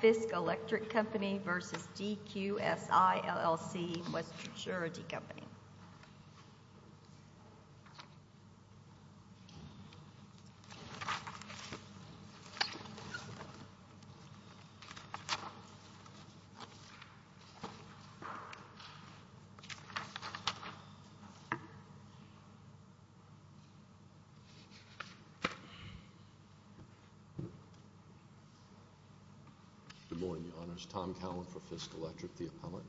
Fisk Electric Company v. DQSI, L.L.C., Western Security Company. Good morning, Your Honors. Tom Cowen for Fisk Electric, the appellant.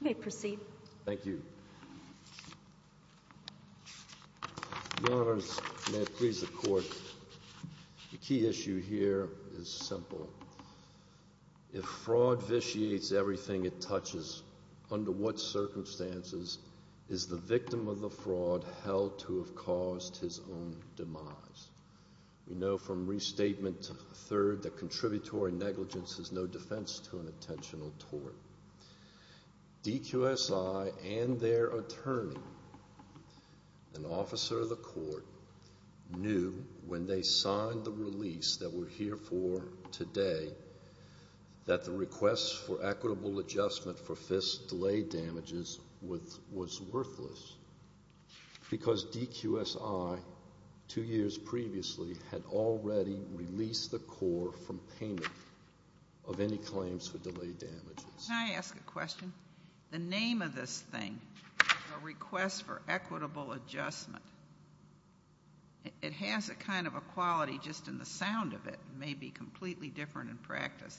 You may proceed. Thank you. Your Honors, may it please the Court, the key issue here is simple. If fraud vitiates everything it touches, under what circumstances is the victim of the fraud held to have caused his own demise? We know from Restatement III that contributory negligence is no defense to an intentional tort. DQSI and their attorney, an officer of the court, knew when they signed the release that we're here for today that the request for equitable adjustment for Fisk's delayed damages was worthless because DQSI, two years previously, had already released the court from payment of any claims for delayed damages. Can I ask a question? The name of this thing, the request for equitable adjustment, it has a kind of a quality just in the sound of it, maybe completely different in practice,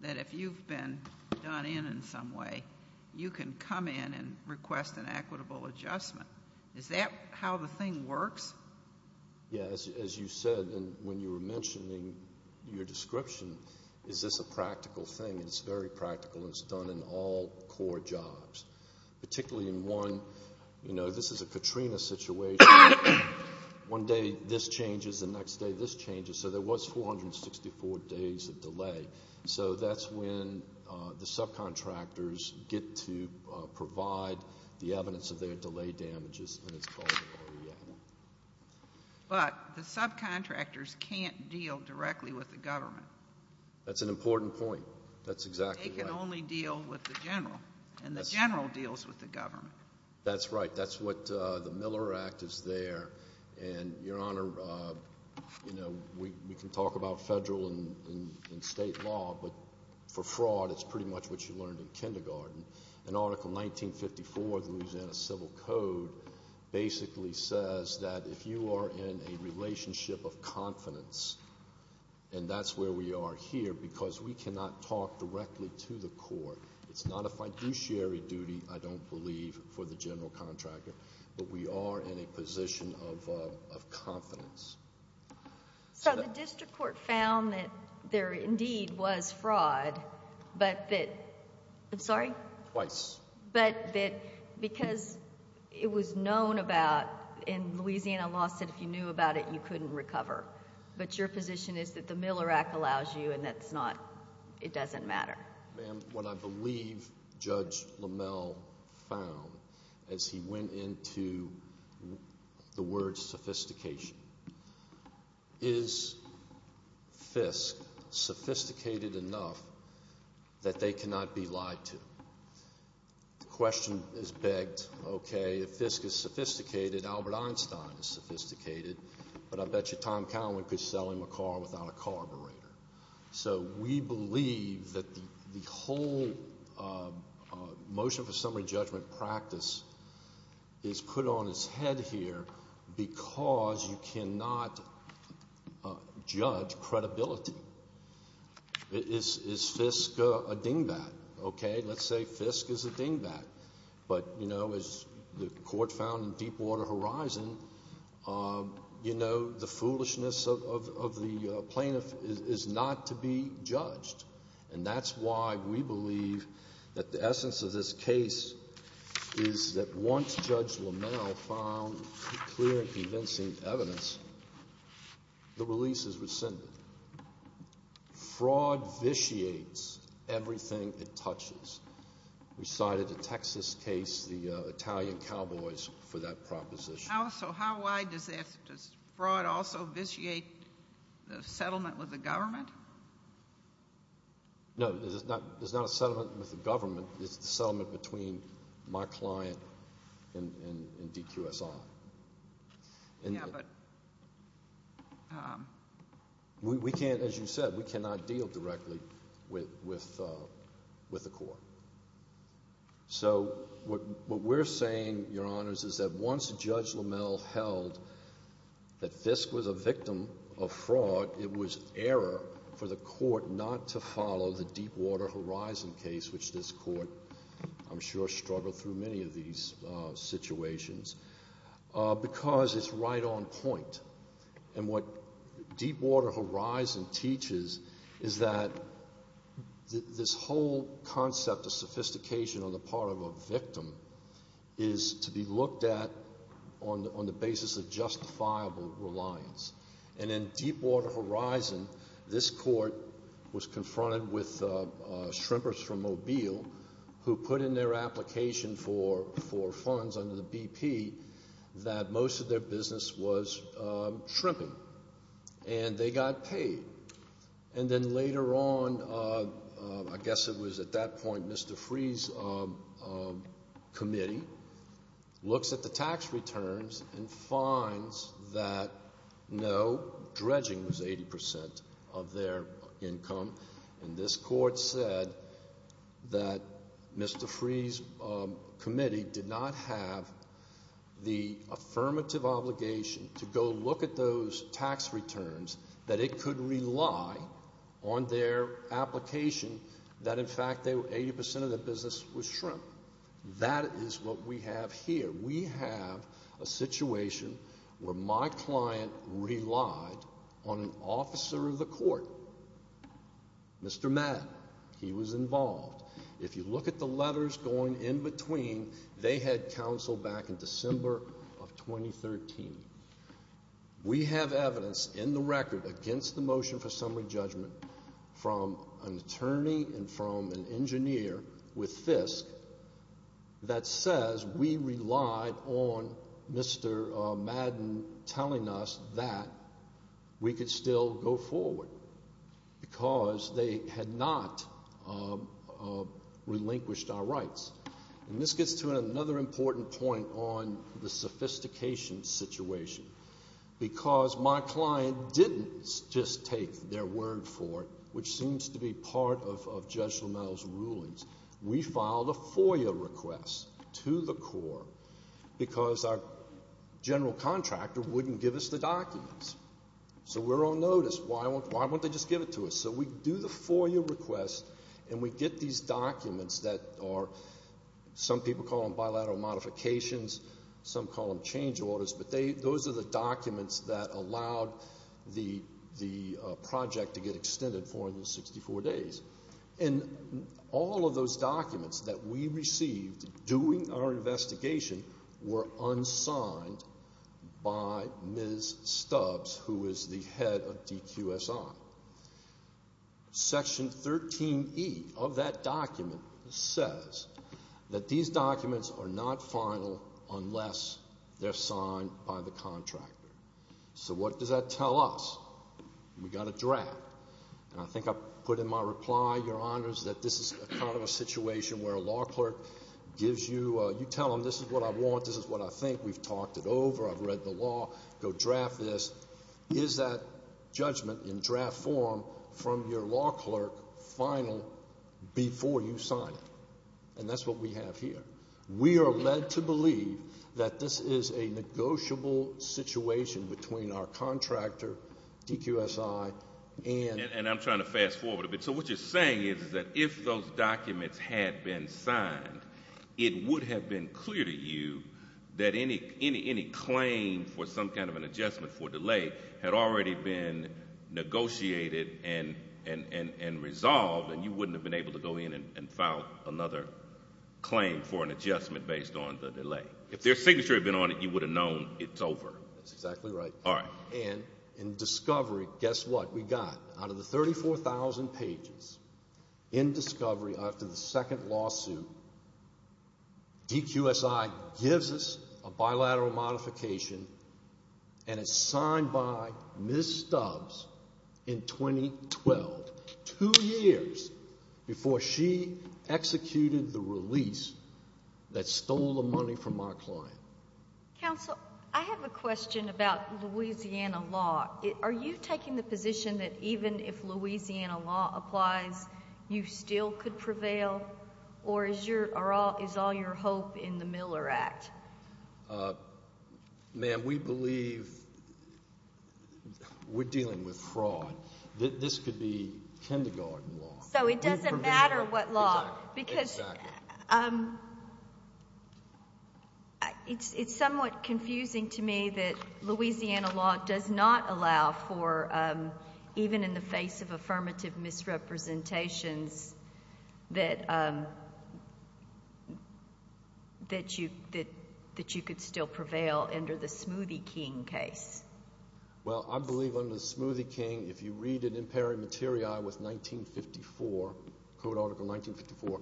that if you've been done in in some way, you can come in and request an equitable adjustment. Is that how the thing works? Yes. As you said when you were mentioning your description, is this a practical thing? It's very practical and it's done in all core jobs, particularly in one. You know, this is a Katrina situation. One day this changes, the next day this changes. So there was 464 days of delay. So that's when the subcontractors get to provide the evidence of their delayed damages and it's called an OER. But the subcontractors can't deal directly with the government. That's an important point. That's exactly right. They can only deal with the general and the general deals with the government. That's right. That's what the Miller Act is there. And, Your Honor, you know, we can talk about federal and state law, but for fraud it's pretty much what you learned in kindergarten. And Article 1954 of the Louisiana Civil Code basically says that if you are in a relationship of confidence, and that's where we are here because we cannot talk directly to the court. It's not a fiduciary duty, I don't believe, for the general contractor. But we are in a position of confidence. So the district court found that there indeed was fraud, but that, I'm sorry? Twice. But that because it was known about, and Louisiana law said if you knew about it you couldn't recover. But your position is that the Miller Act allows you and that's not, it doesn't matter. Ma'am, what I believe Judge Lamel found as he went into the words sophistication, is Fisk sophisticated enough that they cannot be lied to? The question is begged, okay, if Fisk is sophisticated, Albert Einstein is sophisticated, but I bet you Tom Cowan could sell him a car without a carburetor. So we believe that the whole motion for summary judgment practice is put on its head here because you cannot judge credibility. Is Fisk a dingbat? Okay, let's say Fisk is a dingbat. But, you know, as the court found in Deepwater Horizon, you know, the foolishness of the plaintiff is not to be judged. And that's why we believe that the essence of this case is that once Judge Lamel found clear and convincing evidence, the release is rescinded. Fraud vitiates everything it touches. We cited the Texas case, the Italian Cowboys for that proposition. So how wide does that, does fraud also vitiate the settlement with the government? No, there's not a settlement with the government. It's the settlement between my client and DQSI. We can't, as you said, we cannot deal directly with the court. So what we're saying, Your Honors, is that once Judge Lamel held that Fisk was a victim of fraud, it was error for the court not to follow the Deepwater Horizon case, which this court, I'm sure, struggled through many of these situations, because it's right on point. And what Deepwater Horizon teaches is that this whole concept of sophistication on the part of a victim is to be looked at on the basis of justifiable reliance. And in Deepwater Horizon, this court was confronted with shrimpers from Mobile who put in their application for funds under the BP that most of their business was shrimping. And they got paid. And then later on, I guess it was at that point, Mr. Free's committee looks at the tax returns and finds that no, dredging was 80% of their income. And this court said that Mr. Free's committee did not have the affirmative obligation to go look at those tax returns, that it could rely on their application that in fact 80% of their business was shrimp. That is what we have here. We have a situation where my client relied on an officer of the court Mr. Madden. He was involved. If you look at the letters going in between, they had counsel back in December of 2013. We have evidence in the record against the motion for summary judgment from an attorney and from an engineer with Fisk that says we relied on Mr. Madden telling us that we could still go forward. Because they had not relinquished our rights. And this gets to another important point on the sophistication situation. Because my client didn't just take their word for it, which seems to be part of Judge Lammel's rulings. We filed a FOIA request to the court because our general contractor wouldn't give us the documents. So we're on notice. Why won't they just give it to us? So we do the FOIA request and we get these documents that are some people call them bilateral modifications, some call them change orders, but those are the documents that allowed the project to get extended for the 64 days. And all of those documents that we received doing our investigation were unsigned by Ms. Stubbs, who is the head of DQSI. Section 13E of that document says that these documents are not final unless they're signed by the contractor. So what does that tell us? We got a draft. And I think I put in my reply, Your Honors, that this is kind of a situation where a law clerk gives you, you tell them this is what I want, this is what I think. We've talked it over. I've read the law. Go draft this. Is that judgment in draft form from your law clerk final before you sign it? And that's what we have here. We are led to believe that this is a negotiable situation between our contractor, DQSI, and... And I'm trying to fast forward a bit. So what you're saying is that if those documents had been signed, it would have been clear to you that any claim for some kind of an adjustment for delay had already been negotiated and resolved, and you wouldn't have been able to go in and file another claim for an adjustment based on the delay. If their signature had been on it, you would have known it's over. That's exactly right. And in discovery, guess what? Out of the 34,000 pages in discovery after the second lawsuit, DQSI gives us a bilateral modification, and it's signed by Ms. Stubbs in 2012, two years before she executed the release that stole the money from our client. Counsel, I have a question about Louisiana law. Are you taking the position that even if Louisiana law applies, you still could prevail, or is all your hope in the Miller Act? Ma'am, we believe we're dealing with fraud. This could be kindergarten law. So it doesn't matter what law. Exactly. It's somewhat confusing to me that Louisiana law does not allow for, even in the face of affirmative misrepresentations, that you could still prevail under the Smoothie King case. Well, I believe under the Smoothie King, if you read it in peri materia with 1954, Code Article 1954,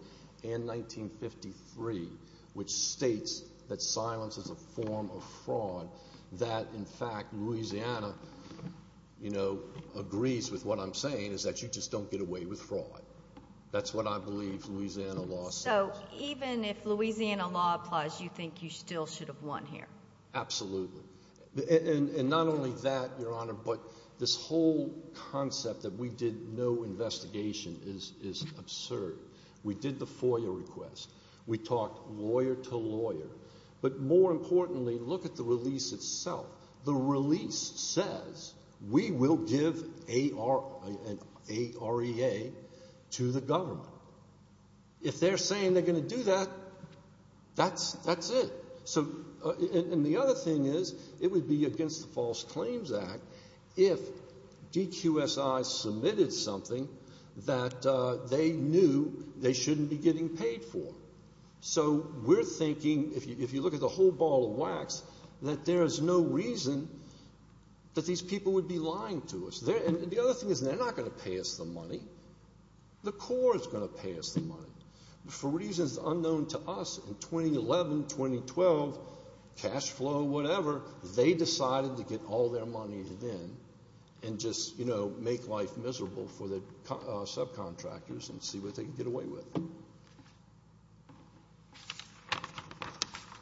and 1953, which states that silence is a form of fraud, that, in fact, Louisiana, you know, agrees with what I'm saying, is that you just don't get away with fraud. That's what I believe Louisiana law says. So even if Louisiana law applies, you think you still should have won here? Absolutely. And not only that, Your Honor, but this whole concept that we did no investigation is absurd. We did the FOIA request. We talked lawyer to lawyer. But more importantly, look at the release itself. The release says we will give an AREA to the government. If they're saying they're going to do that, that's it. And the other thing is, it would be against the False Claims Act if DQSI submitted something that they knew they shouldn't be getting paid for. So we're thinking, if you look at the whole ball of wax, that there is no reason that these people would be lying to us. And the other thing is, they're not going to pay us the money. The Corps is going to pay us the money. For reasons unknown to us, in 2011, 2012, cash flow, whatever, they decided to get all their money in and just, you know, make life miserable for their subcontractors and see what they could get away with.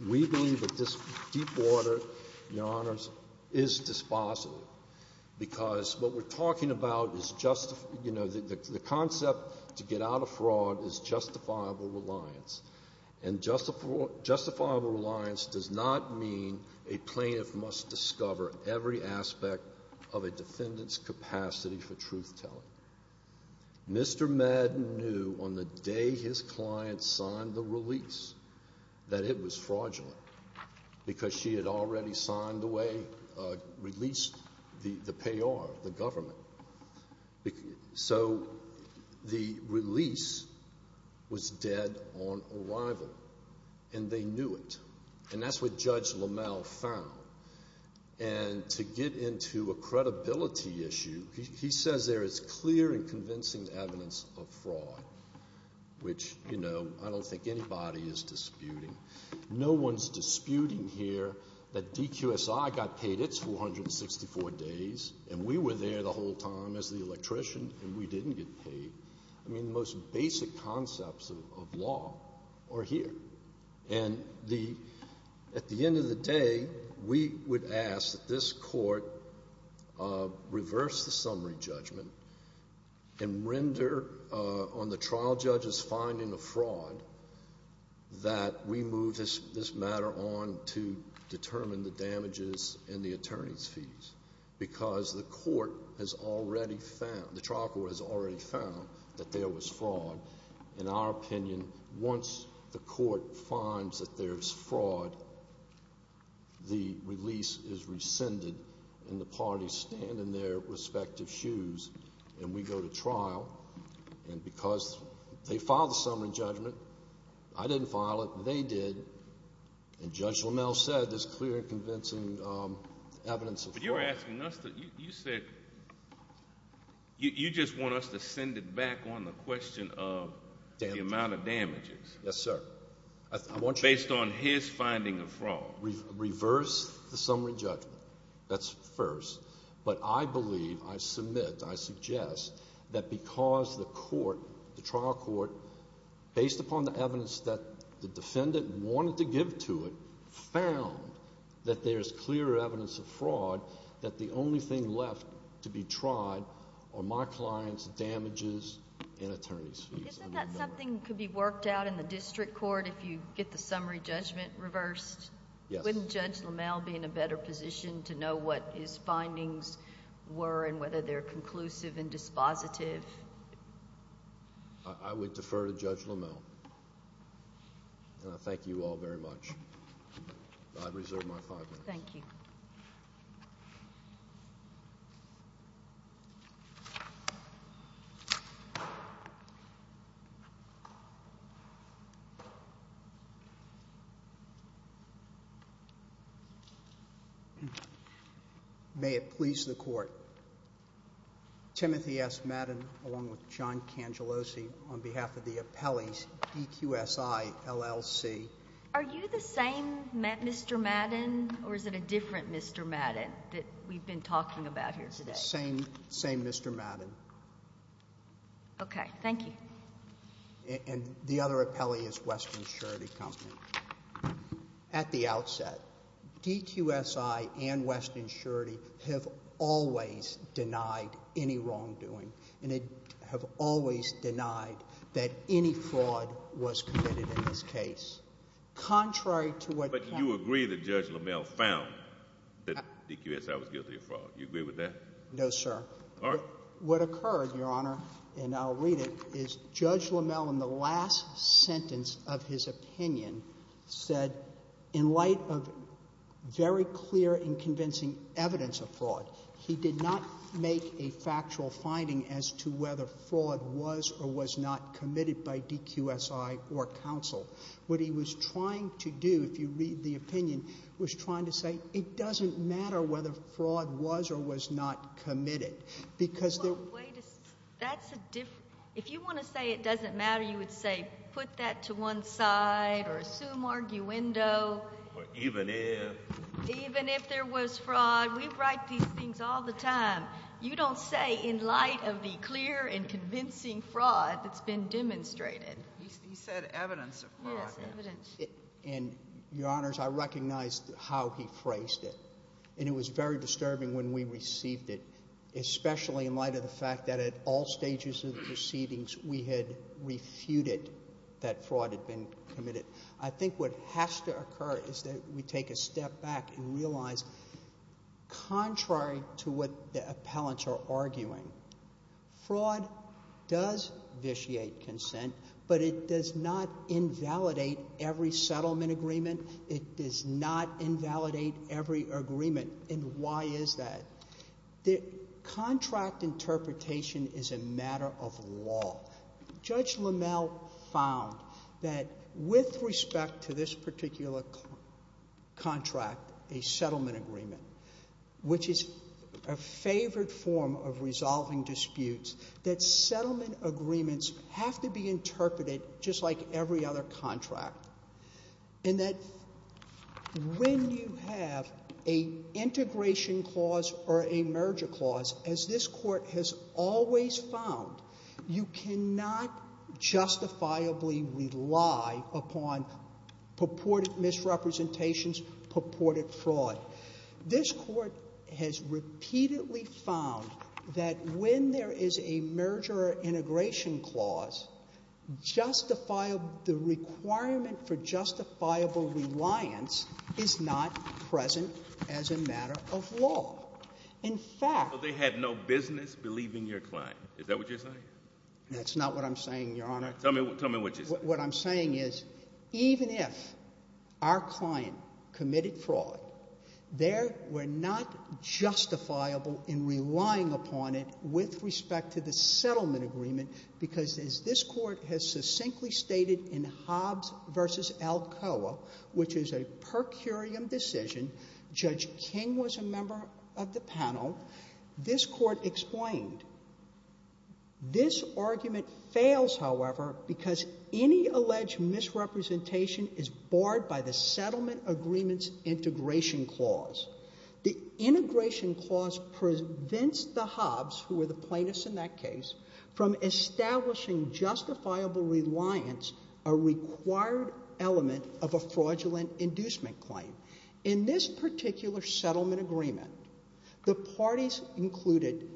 We believe that this deep water, Your Honors, is dispositive. Because what we're talking about is just, you know, the concept to get out of fraud is justifiable reliance. And justifiable reliance does not mean a plaintiff must discover every aspect of a defendant's capacity for truth-telling. Mr. Madden knew, on the day his client signed the release, that it was fraudulent. Because she had already signed the way, released the payor, the government. So the release was dead on arrival. And they knew it. And that's what Judge LaMalle found. And to get into a credibility issue, he says there is clear and convincing evidence of fraud. Which, you know, I don't think anybody is disputing. No one's disputing here that DQSI got paid its 464 days, and we were there the whole time as the electrician, and we didn't get paid. I mean, the most basic concepts of law are here. And at the end of the day, we would ask that this Court reverse the summary judgment and render on the trial judge's finding of fraud that we move this matter on to determine the damages and the attorney's fees. Because the court has already found, the trial court has already found, that there was fraud. In our opinion, once the court finds that there's fraud, the release is rescinded, and the parties stand in their respective shoes, and we go to trial. And because they filed the summary judgment, I didn't file it, they did, and Judge LaMalle said there's clear and convincing evidence of fraud. You're asking us to, you said, you just want us to send it back on the question of the amount of damages. Yes, sir. Based on his finding of fraud. Reverse the summary judgment. That's first. But I believe, I submit, I suggest, that because the court, the trial court, based upon the evidence that the defendant wanted to give to it, found that there's clear evidence of fraud, that the only thing left to be tried are my client's damages and attorney's fees. Isn't that something that could be worked out in the district court, if you get the summary judgment reversed? Yes. Wouldn't Judge LaMalle be in a better position to know what his findings were, and whether they're conclusive and dispositive? I would defer to Judge LaMalle. And I thank you all very much. I reserve my five minutes. Thank you. Thank you. May it please the court. Timothy S. Madden, along with John Cangellosi, on behalf of the appellees, DQSI, LLC. Are you the same Mr. Madden, or is it a different Mr. Madden that we've been talking about here today? Same Mr. Madden. Okay. Thank you. And the other appellee is Western Surety Company. At the outset, DQSI and Western Surety have always denied any wrongdoing. And they have always denied that any fraud was committed in this case. Contrary to what... But you agree that Judge LaMalle found that DQSI was guilty of fraud. Do you agree with that? No, sir. All right. What occurred, Your Honor, and I'll read it, is Judge LaMalle, in the last sentence of his opinion, said, in light of very clear and convincing evidence of fraud, he did not make a factual finding as to whether fraud was or was not committed by DQSI or counsel. What he was trying to do, if you read the opinion, was trying to say, it doesn't matter whether fraud was or was not committed, because there... That's a different... If you want to say it doesn't matter, you would say, put that to one side, or assume arguendo. Or even if... Even if there was fraud. We write these things all the time. You don't say, in light of the clear and convincing fraud that's been demonstrated. He said evidence of fraud. Yes, evidence. And, Your Honors, I recognize how he phrased it. And it was very disturbing when we received it, especially in light of the fact that, at all stages of the proceedings, we had refuted that fraud had been committed. I think what has to occur is that we take a step back and realize, contrary to what the appellants are arguing, fraud does vitiate consent, but it does not invalidate every settlement agreement. It does not invalidate every agreement. And why is that? Contract interpretation is a matter of law. Judge LaMelle found that, with respect to this particular contract, a settlement agreement, which is a favored form of resolving disputes, that settlement agreements have to be interpreted just like every other contract. And that when you have an integration clause or a merger clause, as this Court has always found, you cannot justifiably rely upon purported misrepresentations, purported fraud. This Court has repeatedly found that when there is a merger or integration clause, the requirement for justifiable reliance is not present as a matter of law. In fact... So they had no business believing your client. Is that what you're saying? That's not what I'm saying, Your Honor. Tell me what you're saying. What I'm saying is, even if our client committed fraud, there were not justifiable in relying upon it with respect to the settlement agreement, because as this Court has succinctly stated in Hobbs v. Alcoa, which is a per curiam decision, Judge King was a member of the panel, this Court explained, this argument fails, however, because any alleged misrepresentation is barred by the settlement agreement's integration clause. The integration clause prevents the Hobbs, who were the plaintiffs in that case, from establishing justifiable reliance, a required element of a fraudulent inducement claim. In this particular settlement agreement, the parties included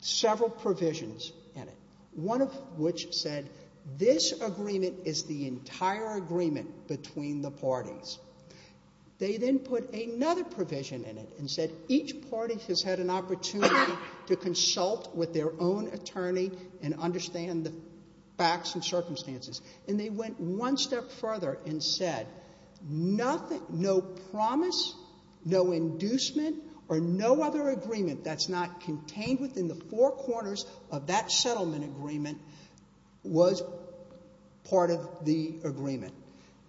several provisions in it, one of which said, this agreement is the entire agreement between the parties. They then put another provision in it, and said each party has had an opportunity to consult with their own attorney and understand the facts and circumstances. And they went one step further and said, no promise, no inducement, or no other agreement that's not contained within the four corners of that settlement agreement was part of the agreement.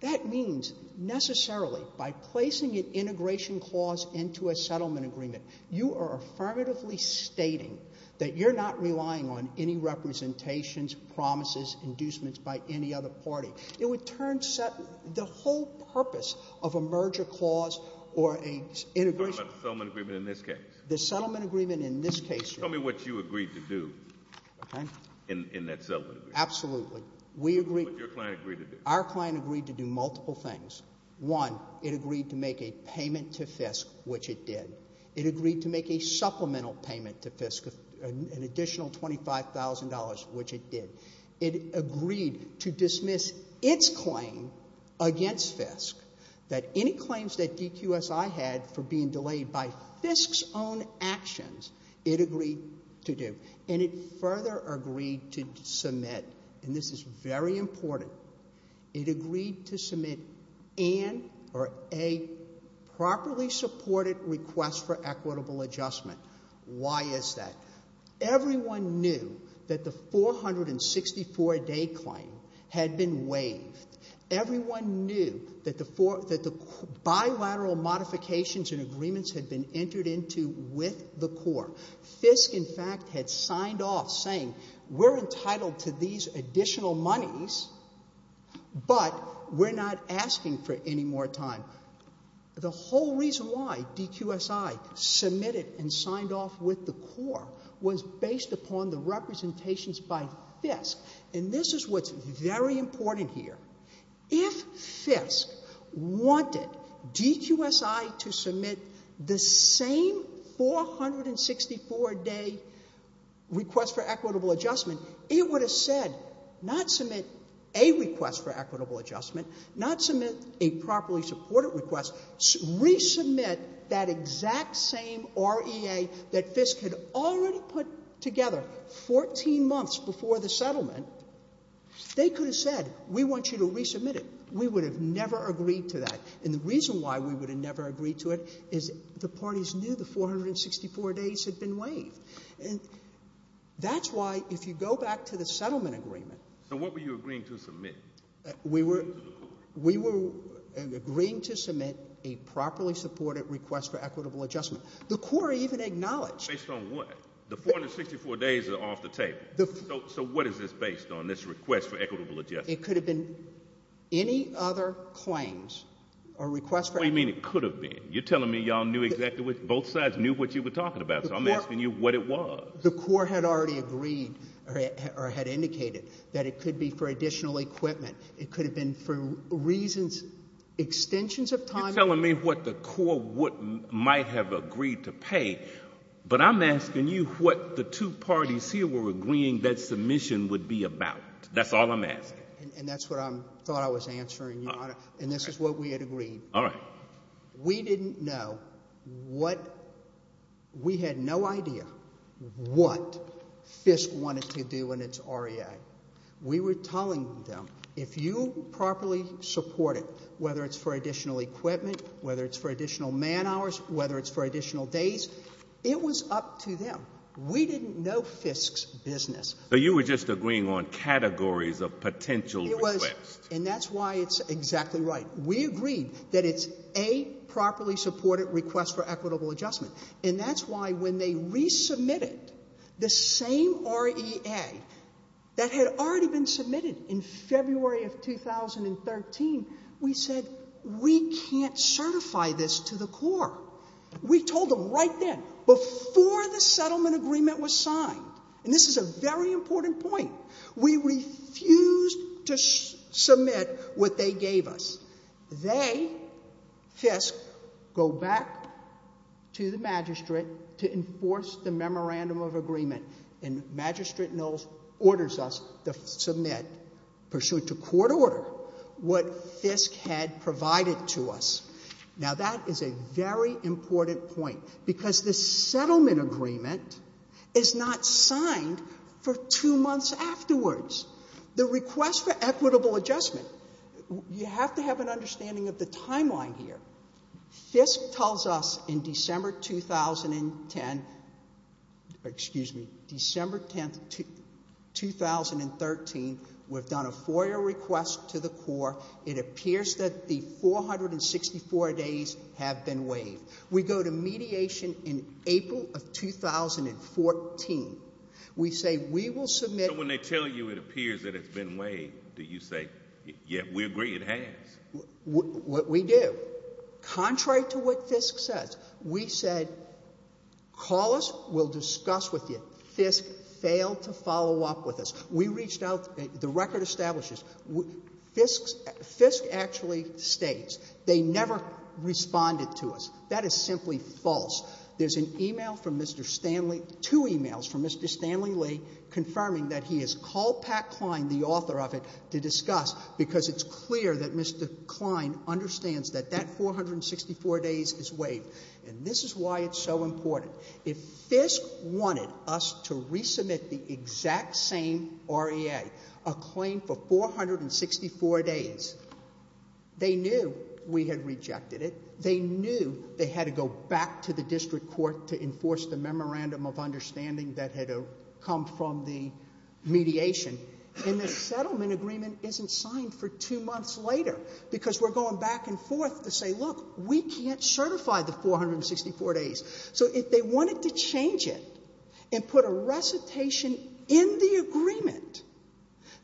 That means, necessarily, by placing an integration clause into a settlement agreement, you are affirmatively stating that you're not relying on any representations, promises, inducements by any other party. It would turn the whole purpose of a merger clause or an integration clause. The settlement agreement in this case? The settlement agreement in this case, yes. Tell me what you agreed to do in that settlement agreement. Absolutely. What did your client agree to do? Our client agreed to do multiple things. One, it agreed to make a payment to FISC, which it did. It agreed to make a supplemental payment to FISC, an additional $25,000, which it did. It agreed to dismiss its claim against FISC that any claims that DQSI had for being delayed by FISC's own actions, it agreed to do. And it further agreed to submit, and this is very important, it agreed to submit an, or a, properly supported request for equitable adjustment. Why is that? Everyone knew that the 464-day claim had been waived. and agreements had been entered into with the court. FISC, in fact, had signed off saying, we're entitled to these additional monies, but we're not asking for any more time. The whole reason why DQSI submitted and signed off with the court was based upon the representations by FISC, and this is what's very important here. If FISC wanted DQSI to submit the same 464-day request for equitable adjustment, it would have said, not submit a request for equitable adjustment, not submit a properly supported request, resubmit that exact same REA that FISC had already put together 14 months before the settlement. They could have said, we want you to resubmit it. We would have never agreed to that. And the reason why we would have never agreed to it is the parties knew the 464 days had been waived. And that's why, if you go back to the settlement agreement... So what were you agreeing to submit? We were agreeing to submit a properly supported request for equitable adjustment. The court even acknowledged... Based on what? The 464 days are off the table. So what is this based on, this request for equitable adjustment? It could have been any other claims or request for... What do you mean it could have been? You're telling me y'all knew exactly what... Both sides knew what you were talking about, so I'm asking you what it was. The court had already agreed, or had indicated, that it could be for additional equipment. It could have been for reasons, extensions of time... You're telling me what the court might have agreed to pay, but I'm asking you what the two parties here were agreeing that submission would be about. That's all I'm asking. And that's what I thought I was answering, Your Honor. And this is what we had agreed. All right. We didn't know what... We had no idea what FISC wanted to do in its REA. We were telling them, if you properly support it, whether it's for additional equipment, whether it's for additional man hours, whether it's for additional days, it was up to them. We didn't know FISC's business. So you were just agreeing on categories of potential requests. And that's why it's exactly right. We agreed that it's a properly supported request for equitable adjustment. And that's why when they resubmitted the same REA that had already been submitted in February of 2013, we said we can't certify this to the court. We told them right then, before the settlement agreement was signed, and this is a very important point, we refused to submit what they gave us. They, FISC, go back to the magistrate to enforce the memorandum of agreement. And Magistrate Knowles orders us to submit, pursuant to court order, what FISC had provided to us. Now that is a very important point because the settlement agreement is not signed for two months afterwards. The request for equitable adjustment, you have to have an understanding of the timeline here. FISC tells us in December 2010, excuse me, December 10, 2013, we've done a FOIA request to the court. It appears that the 464 days have been waived. We go to mediation in April of 2014. We say we will submit... So when they tell you it appears that it's been waived, do you say, yeah, we agree it has? We do. Contrary to what FISC says, we said call us, we'll discuss with you. FISC failed to follow up with us. We reached out, the record establishes, FISC actually states they never responded to us. That is simply false. There's an email from Mr. Stanley, two emails from Mr. Stanley Lee confirming that he has called Pat Klein, the author of it, to discuss because it's clear that Mr. Klein understands that that 464 days is waived. And this is why it's so important. If FISC wanted us to resubmit the exact same REA, a claim for 464 days, they knew we had rejected it. They knew they had to go back to the district court to enforce the memorandum of understanding that had come from the mediation. And the settlement agreement isn't signed for two months later because we're going back and forth to say, look, we can't certify the 464 days. So if they wanted to change it and put a recitation in the agreement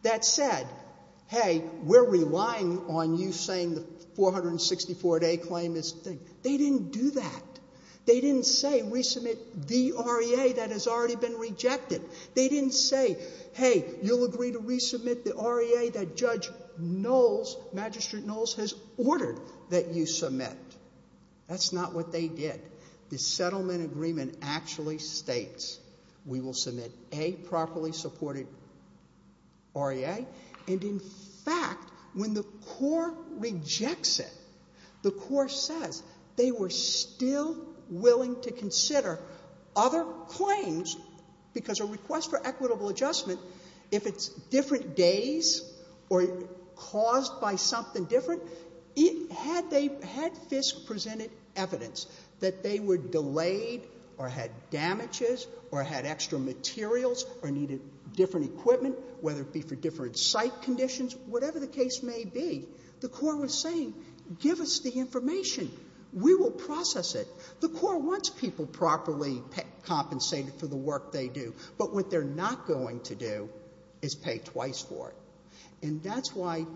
that said, hey, we're relying on you for saying the 464-day claim is a thing, they didn't do that. They didn't say resubmit the REA that has already been rejected. They didn't say, hey, you'll agree to resubmit the REA that Judge Knowles, Magistrate Knowles, has ordered that you submit. That's not what they did. The settlement agreement actually states we will submit a properly supported REA. And in fact, when the court rejects it, the court says they were still willing to consider other claims because a request for equitable adjustment, if it's different days or caused by something different, had FISC presented evidence that they were delayed or had damages or had extra materials or needed different equipment, whether it be for different site conditions, whatever the case may be, the court was saying, give us the information. We will process it. The court wants people properly compensated for the work they do, but what they're not going to do is pay twice for it. And that's why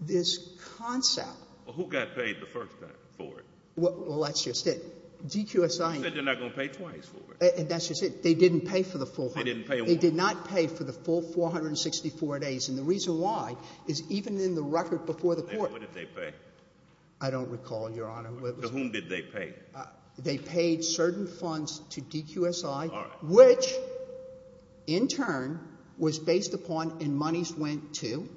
this concept... Well, who got paid the first time for it? Well, that's just it. You said they're not going to pay twice for it. And that's just it. They didn't pay for the full time. They did not pay for the full 464 days. And the reason why is even in the record before the court... What did they pay? I don't recall, Your Honor. To whom did they pay? They paid certain funds to DQSI, which in turn was based upon and monies went to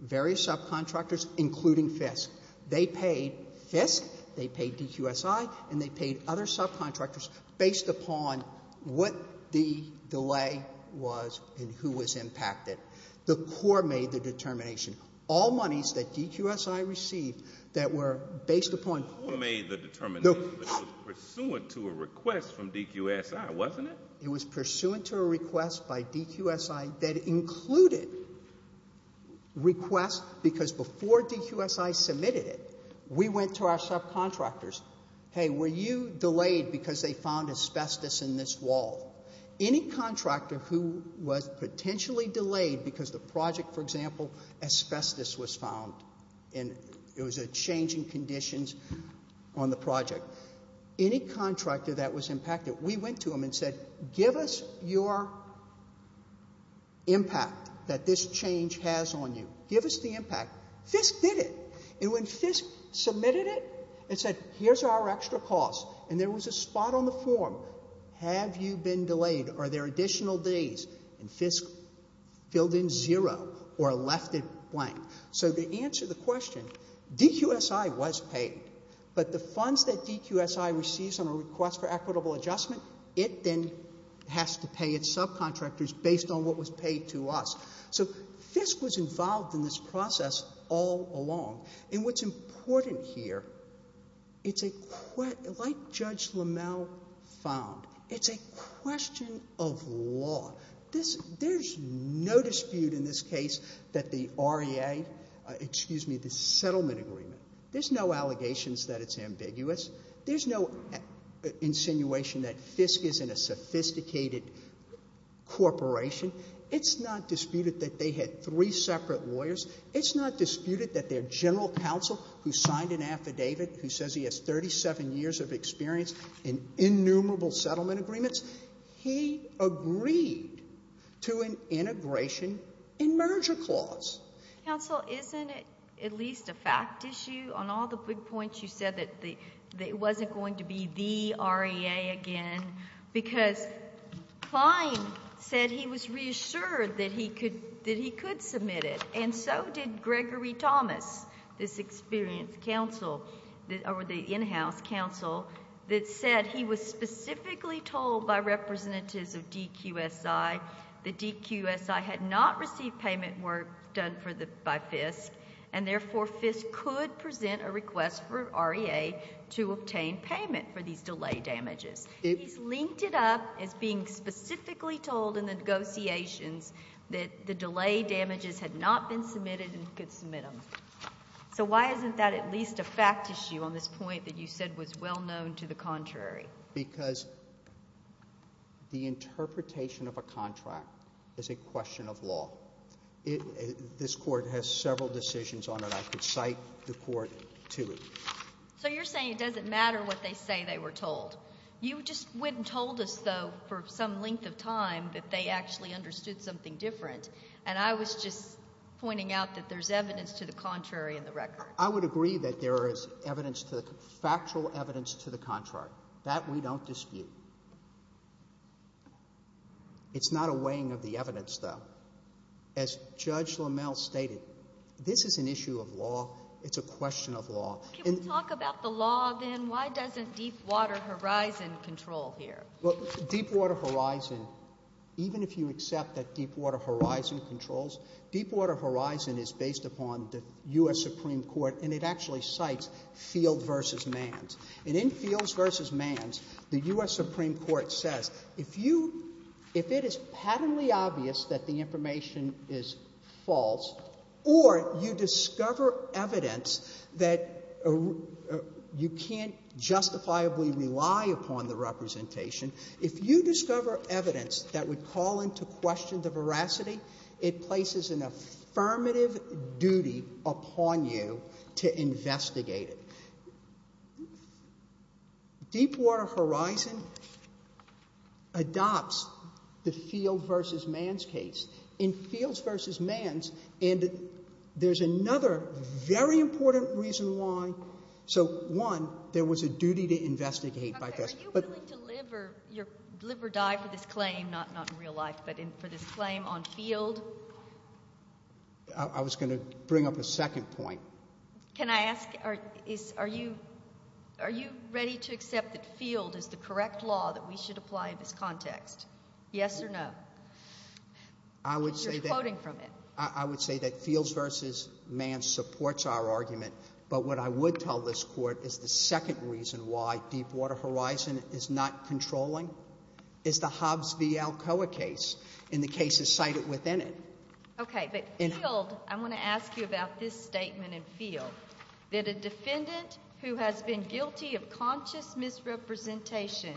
various subcontractors, including FISC. They paid FISC, they paid DQSI, and they paid other subcontractors based upon what the delay was and who was impacted. The court made the determination. All monies that DQSI received that were based upon... The court made the determination, but it was pursuant to a request from DQSI, wasn't it? It was pursuant to a request by DQSI that included requests because before DQSI submitted it, we went to our subcontractors. Hey, were you delayed because they found asbestos in this wall? Any contractor who was potentially delayed because the project, for example, asbestos was found and it was a change in conditions on the project, any contractor that was impacted, we went to them and said, give us your impact that this change has on you. Give us the impact. FISC did it. And when FISC submitted it, it said here's our extra costs and there was a spot on the form. Have you been delayed? Are there additional days? And FISC filled in zero or left it blank. So to answer the question, DQSI was paid, but the funds that DQSI receives on a request for equitable adjustment, it then has to pay its subcontractors based on what was paid to us. So FISC was involved in this process all along. And what's important here, it's a question, like Judge LaMalle found, it's a question of law. There's no dispute in this case that the REA, excuse me, the settlement agreement, there's no allegations that it's ambiguous. There's no insinuation that FISC isn't a sophisticated corporation. It's not disputed that they had three separate lawyers. It's not disputed that their general counsel who signed an affidavit who says he has 37 years of experience in innumerable settlement agreements, he agreed to an integration and merger clause. Counsel, isn't it at least a fact issue on all the big points you said that it wasn't going to be the REA again because Klein said he was reassured that he could submit it. So did Gregory Thomas, this experienced counsel, or the in-house counsel, that said he was specifically told by representatives of DQSI that DQSI had not received payment work done by FISC and therefore FISC could present a request for REA to obtain payment for these delay damages. He's linked it up as being specifically told in the negotiations that the delay damages had not been submitted and could submit them. So why isn't that at least a fact issue on this point that you said was well known to the contrary? Because the interpretation of a contract is a question of law. This Court has several decisions on it. I could cite the Court to it. So you're saying it doesn't matter what they say they were told. You just went and told us, though, for some length of time that you wanted to do something different. And I was just pointing out that there's evidence to the contrary in the record. I would agree that there is factual evidence to the contrary. That we don't dispute. It's not a weighing of the evidence, though. As Judge LaMalle stated, this is an issue of law. It's a question of law. Can we talk about the law, then? Why doesn't Deepwater Horizon control here? Well, Deepwater Horizon, even if you accept that Deepwater Horizon controls, Deepwater Horizon is based upon the U.S. Supreme Court, and it actually cites Field v. Manns. And in Fields v. Manns, the U.S. Supreme Court says if it is patently obvious that the information is false, or you discover evidence that you can't justifiably rely upon the representation, if you discover evidence that would call into question the veracity, it places an affirmative duty upon you to investigate it. Deepwater Horizon adopts the Field v. Manns case. In Fields v. Manns, and there's another very important reason why. So, one, there was a duty to investigate. Okay, are you willing to live or die for this claim, not in real life, but for this claim on Field? I was going to bring up a second point. Can I ask, are you ready to accept that Field is the correct law that we should apply in this context? Yes or no? You're quoting from it. I would say that Fields v. Manns supports our argument, but what I would tell this Court is the second reason why Deepwater Horizon is not controlling is the Hobbs v. Alcoa case and the cases cited within it. Okay, but Field, I want to ask you about this statement in Field, that a defendant who has been guilty of conscious misrepresentation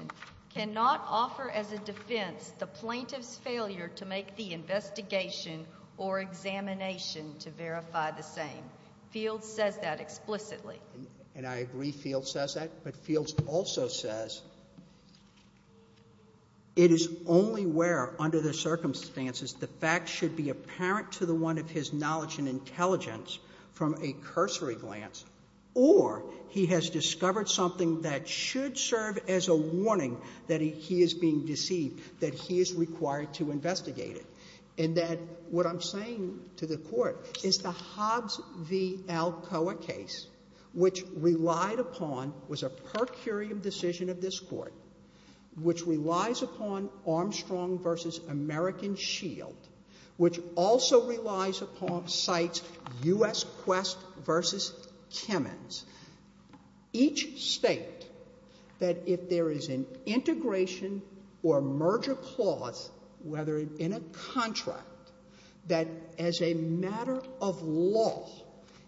cannot offer as a defense the plaintiff's failure to make the investigation or examination to verify the same. Fields says that explicitly. And I agree Fields says that, but Fields also says it is only where, under the circumstances, the facts should be apparent to the one of his knowledge and intelligence from a cursory glance or he has discovered something that should serve as a warning that he is being deceived, that he is required to investigate it. And that what I'm saying to the Court is the Hobbs v. Alcoa case which relied upon was a per curiam decision of this Court, which relies upon Armstrong v. American Shield, which also relies upon, cites U.S. Quest v. Kimmons, each state that if there is an integration or merger clause, whether in a contract, that as a matter of law,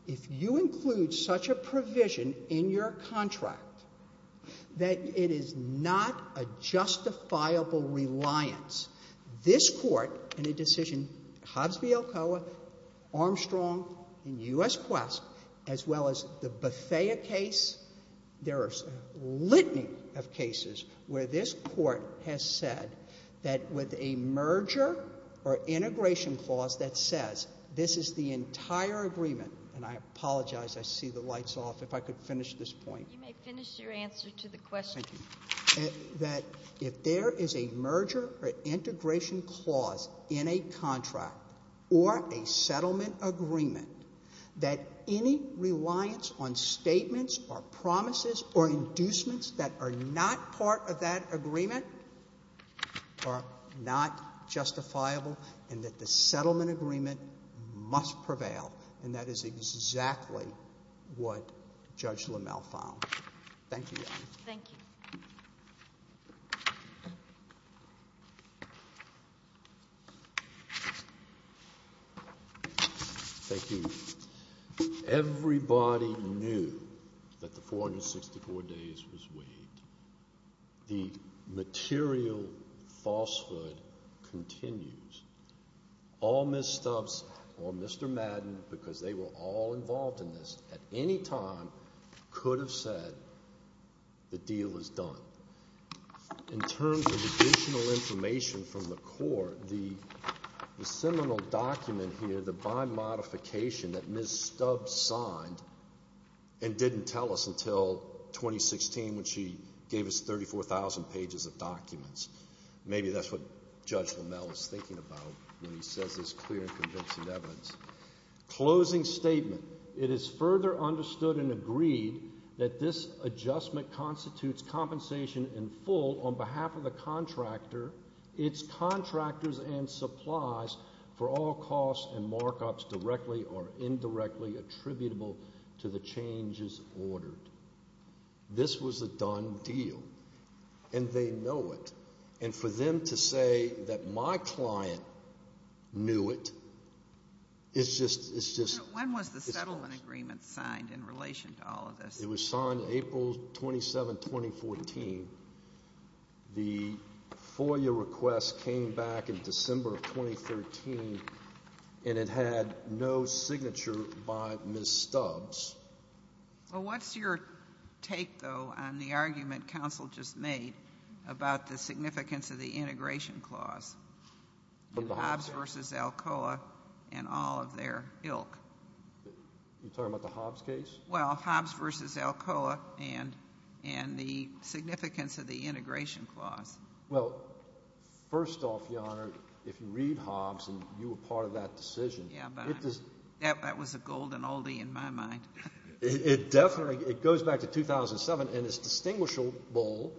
if you include such a provision in your contract that it is not a justifiable reliance, this Court in a decision, Hobbs v. Alcoa, Armstrong, and U.S. Quest, as well as the Bethea case, there are a litany of cases where this Court has said that with a merger or integration clause that says this is the entire agreement, and I apologize, I see the lights off, if I could finish this point. You may finish your answer to the question. Thank you. That if there is a merger or integration clause in a contract or a settlement agreement that any reliance on statements or promises or inducements that are not part of that agreement are not justifiable and that the settlement agreement must prevail, and that is exactly what Judge LaMelf found. Thank you. Thank you. Thank you. Everybody knew that the 464 days was waived. The material falsehood continues. All Ms. Stubbs or Mr. Madden, because they were all involved in this at any time, could have said the deal is done. In terms of additional information from the Court, the seminal document here, the bond modification that Ms. Stubbs signed and didn't tell us until 2016 when she gave us 34,000 pages of documents, maybe that's what Judge LaMelf was thinking about when he says this clear and convincing evidence. Closing statement. It is further understood and agreed that this adjustment constitutes compensation in full on behalf of the contractor, its contractors and supplies for all costs and markups directly or indirectly attributable to the changes ordered. This was a done deal. And they know it. And for them to say that my client knew it is just... When was the settlement agreement signed in relation to all of this? It was signed April 27, 2014. The FOIA request came back in December of 2013 and it had no signature by Ms. Stubbs. Well, what's your take, though, on the argument counsel just made about the significance of the integration clause in Hobbs v. Alcoa and all of their ilk? You're talking about the Hobbs case? Well, Hobbs v. Alcoa and the significance of the integration clause. Well, first off, Your Honor, if you read Hobbs and you were part of that decision... Yeah, but that was a golden oldie in my mind. It definitely... It goes back to 2007 and it's distinguishable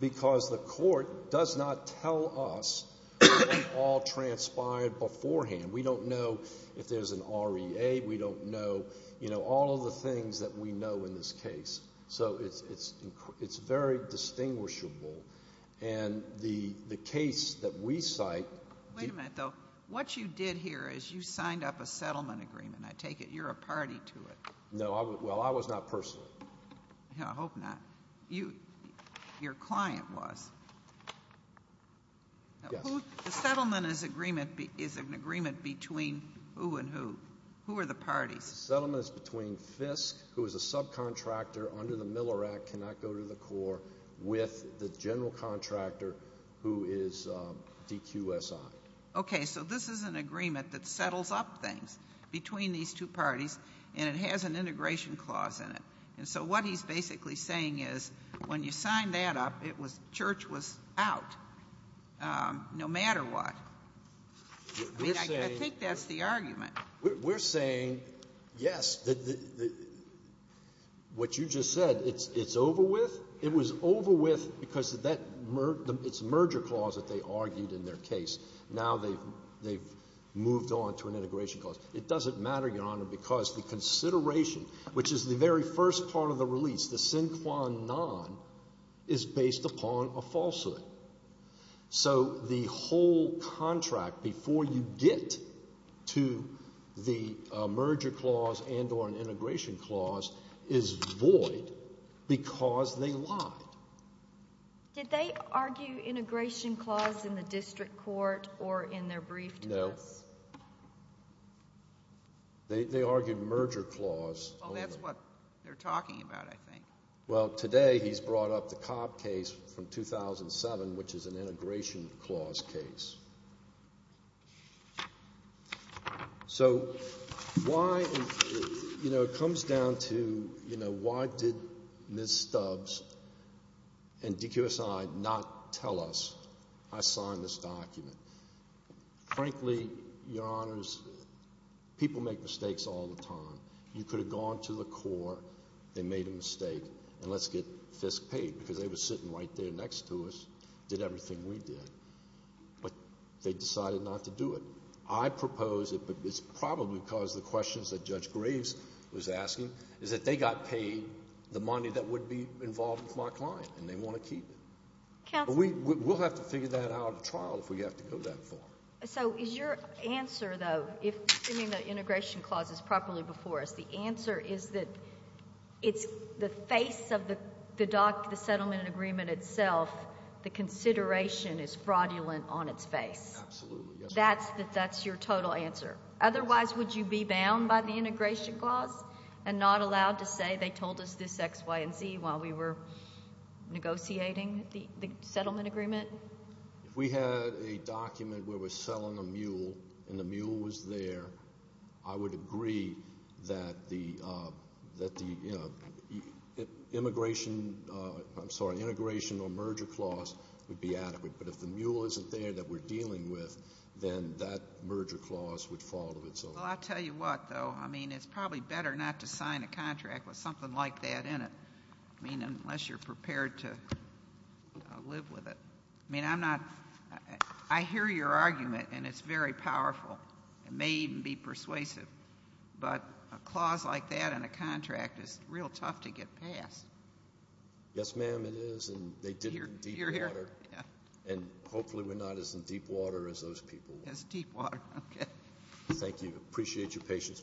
because the court does not tell us what all transpired beforehand. We don't know if there's an REA. We don't know, you know, all of the things that we know in this case. So it's very distinguishable. And the case that we cite... Wait a minute, though. What you did here is you signed up a settlement agreement, I take it. You're a party to it. No, well, I was not personally. Yeah, I hope not. Your client was. The settlement is an agreement between who and who? Who are the parties? The settlement is between Fisk, who is a subcontractor under the Miller Act, cannot go to the court, with the general contractor, who is DQSI. Okay, so this is an agreement that settles up things between these two parties and it has an integration clause in it. And so what he's basically saying is when you signed that up, church was out, no matter what. I mean, I think that's the argument. We're saying, yes, what you just said, it's over with. It was over with because of that merger clause that they argued in their case. Now they've moved on to an integration clause. It doesn't matter, Your Honor, because the consideration, which is the very first part of the release, the sine qua non, is based upon a falsehood. So the whole contract, before you get to the merger clause and or an integration clause, is void because they lied. Did they argue integration clause in the district court or in their brief to this? No. They argued merger clause. Oh, that's what they're talking about, I think. Well, today he's brought up the Cobb case from 2007, which is an integration clause case. So why, you know, it comes down to, you know, why did Ms. Stubbs and DQSI not tell us I signed this document? Frankly, Your Honors, people make mistakes all the time. You could have gone to the court, they made a mistake, and let's get Fisk paid because they were sitting right there next to us, did everything we did, but they decided not to do it. I propose it, but it's probably because the questions that Judge Graves was asking is that they got paid the money that would be involved with my client and they want to keep it. We have to figure that out at trial if we have to go that far. So is your answer, though, if the integration clause is properly before us, the answer is that it's the face of the doc, the settlement agreement itself, the consideration is fraudulent on its face. Absolutely. That's your total answer. Otherwise, would you be bound by the integration clause and not allowed to say they told us this X, Y, and Z while we were negotiating the settlement agreement? If we had a document where we're selling a mule and the mule was there, I would agree that the integration or merger clause would be adequate, but if the mule isn't there that we're dealing with, then that merger clause would fall to itself. I'll tell you what, though. It's probably better not to sign a contract with something like that in it unless you're prepared to live with it. I'm not. I hear your argument, and it's very powerful. It may even be persuasive, but a clause like that in a contract is real tough to get passed. Yes, ma'am, it is, and they did it in deep water. And hopefully we're not as in deep water as those people were. As deep water, okay. Thank you. Appreciate your patience with me.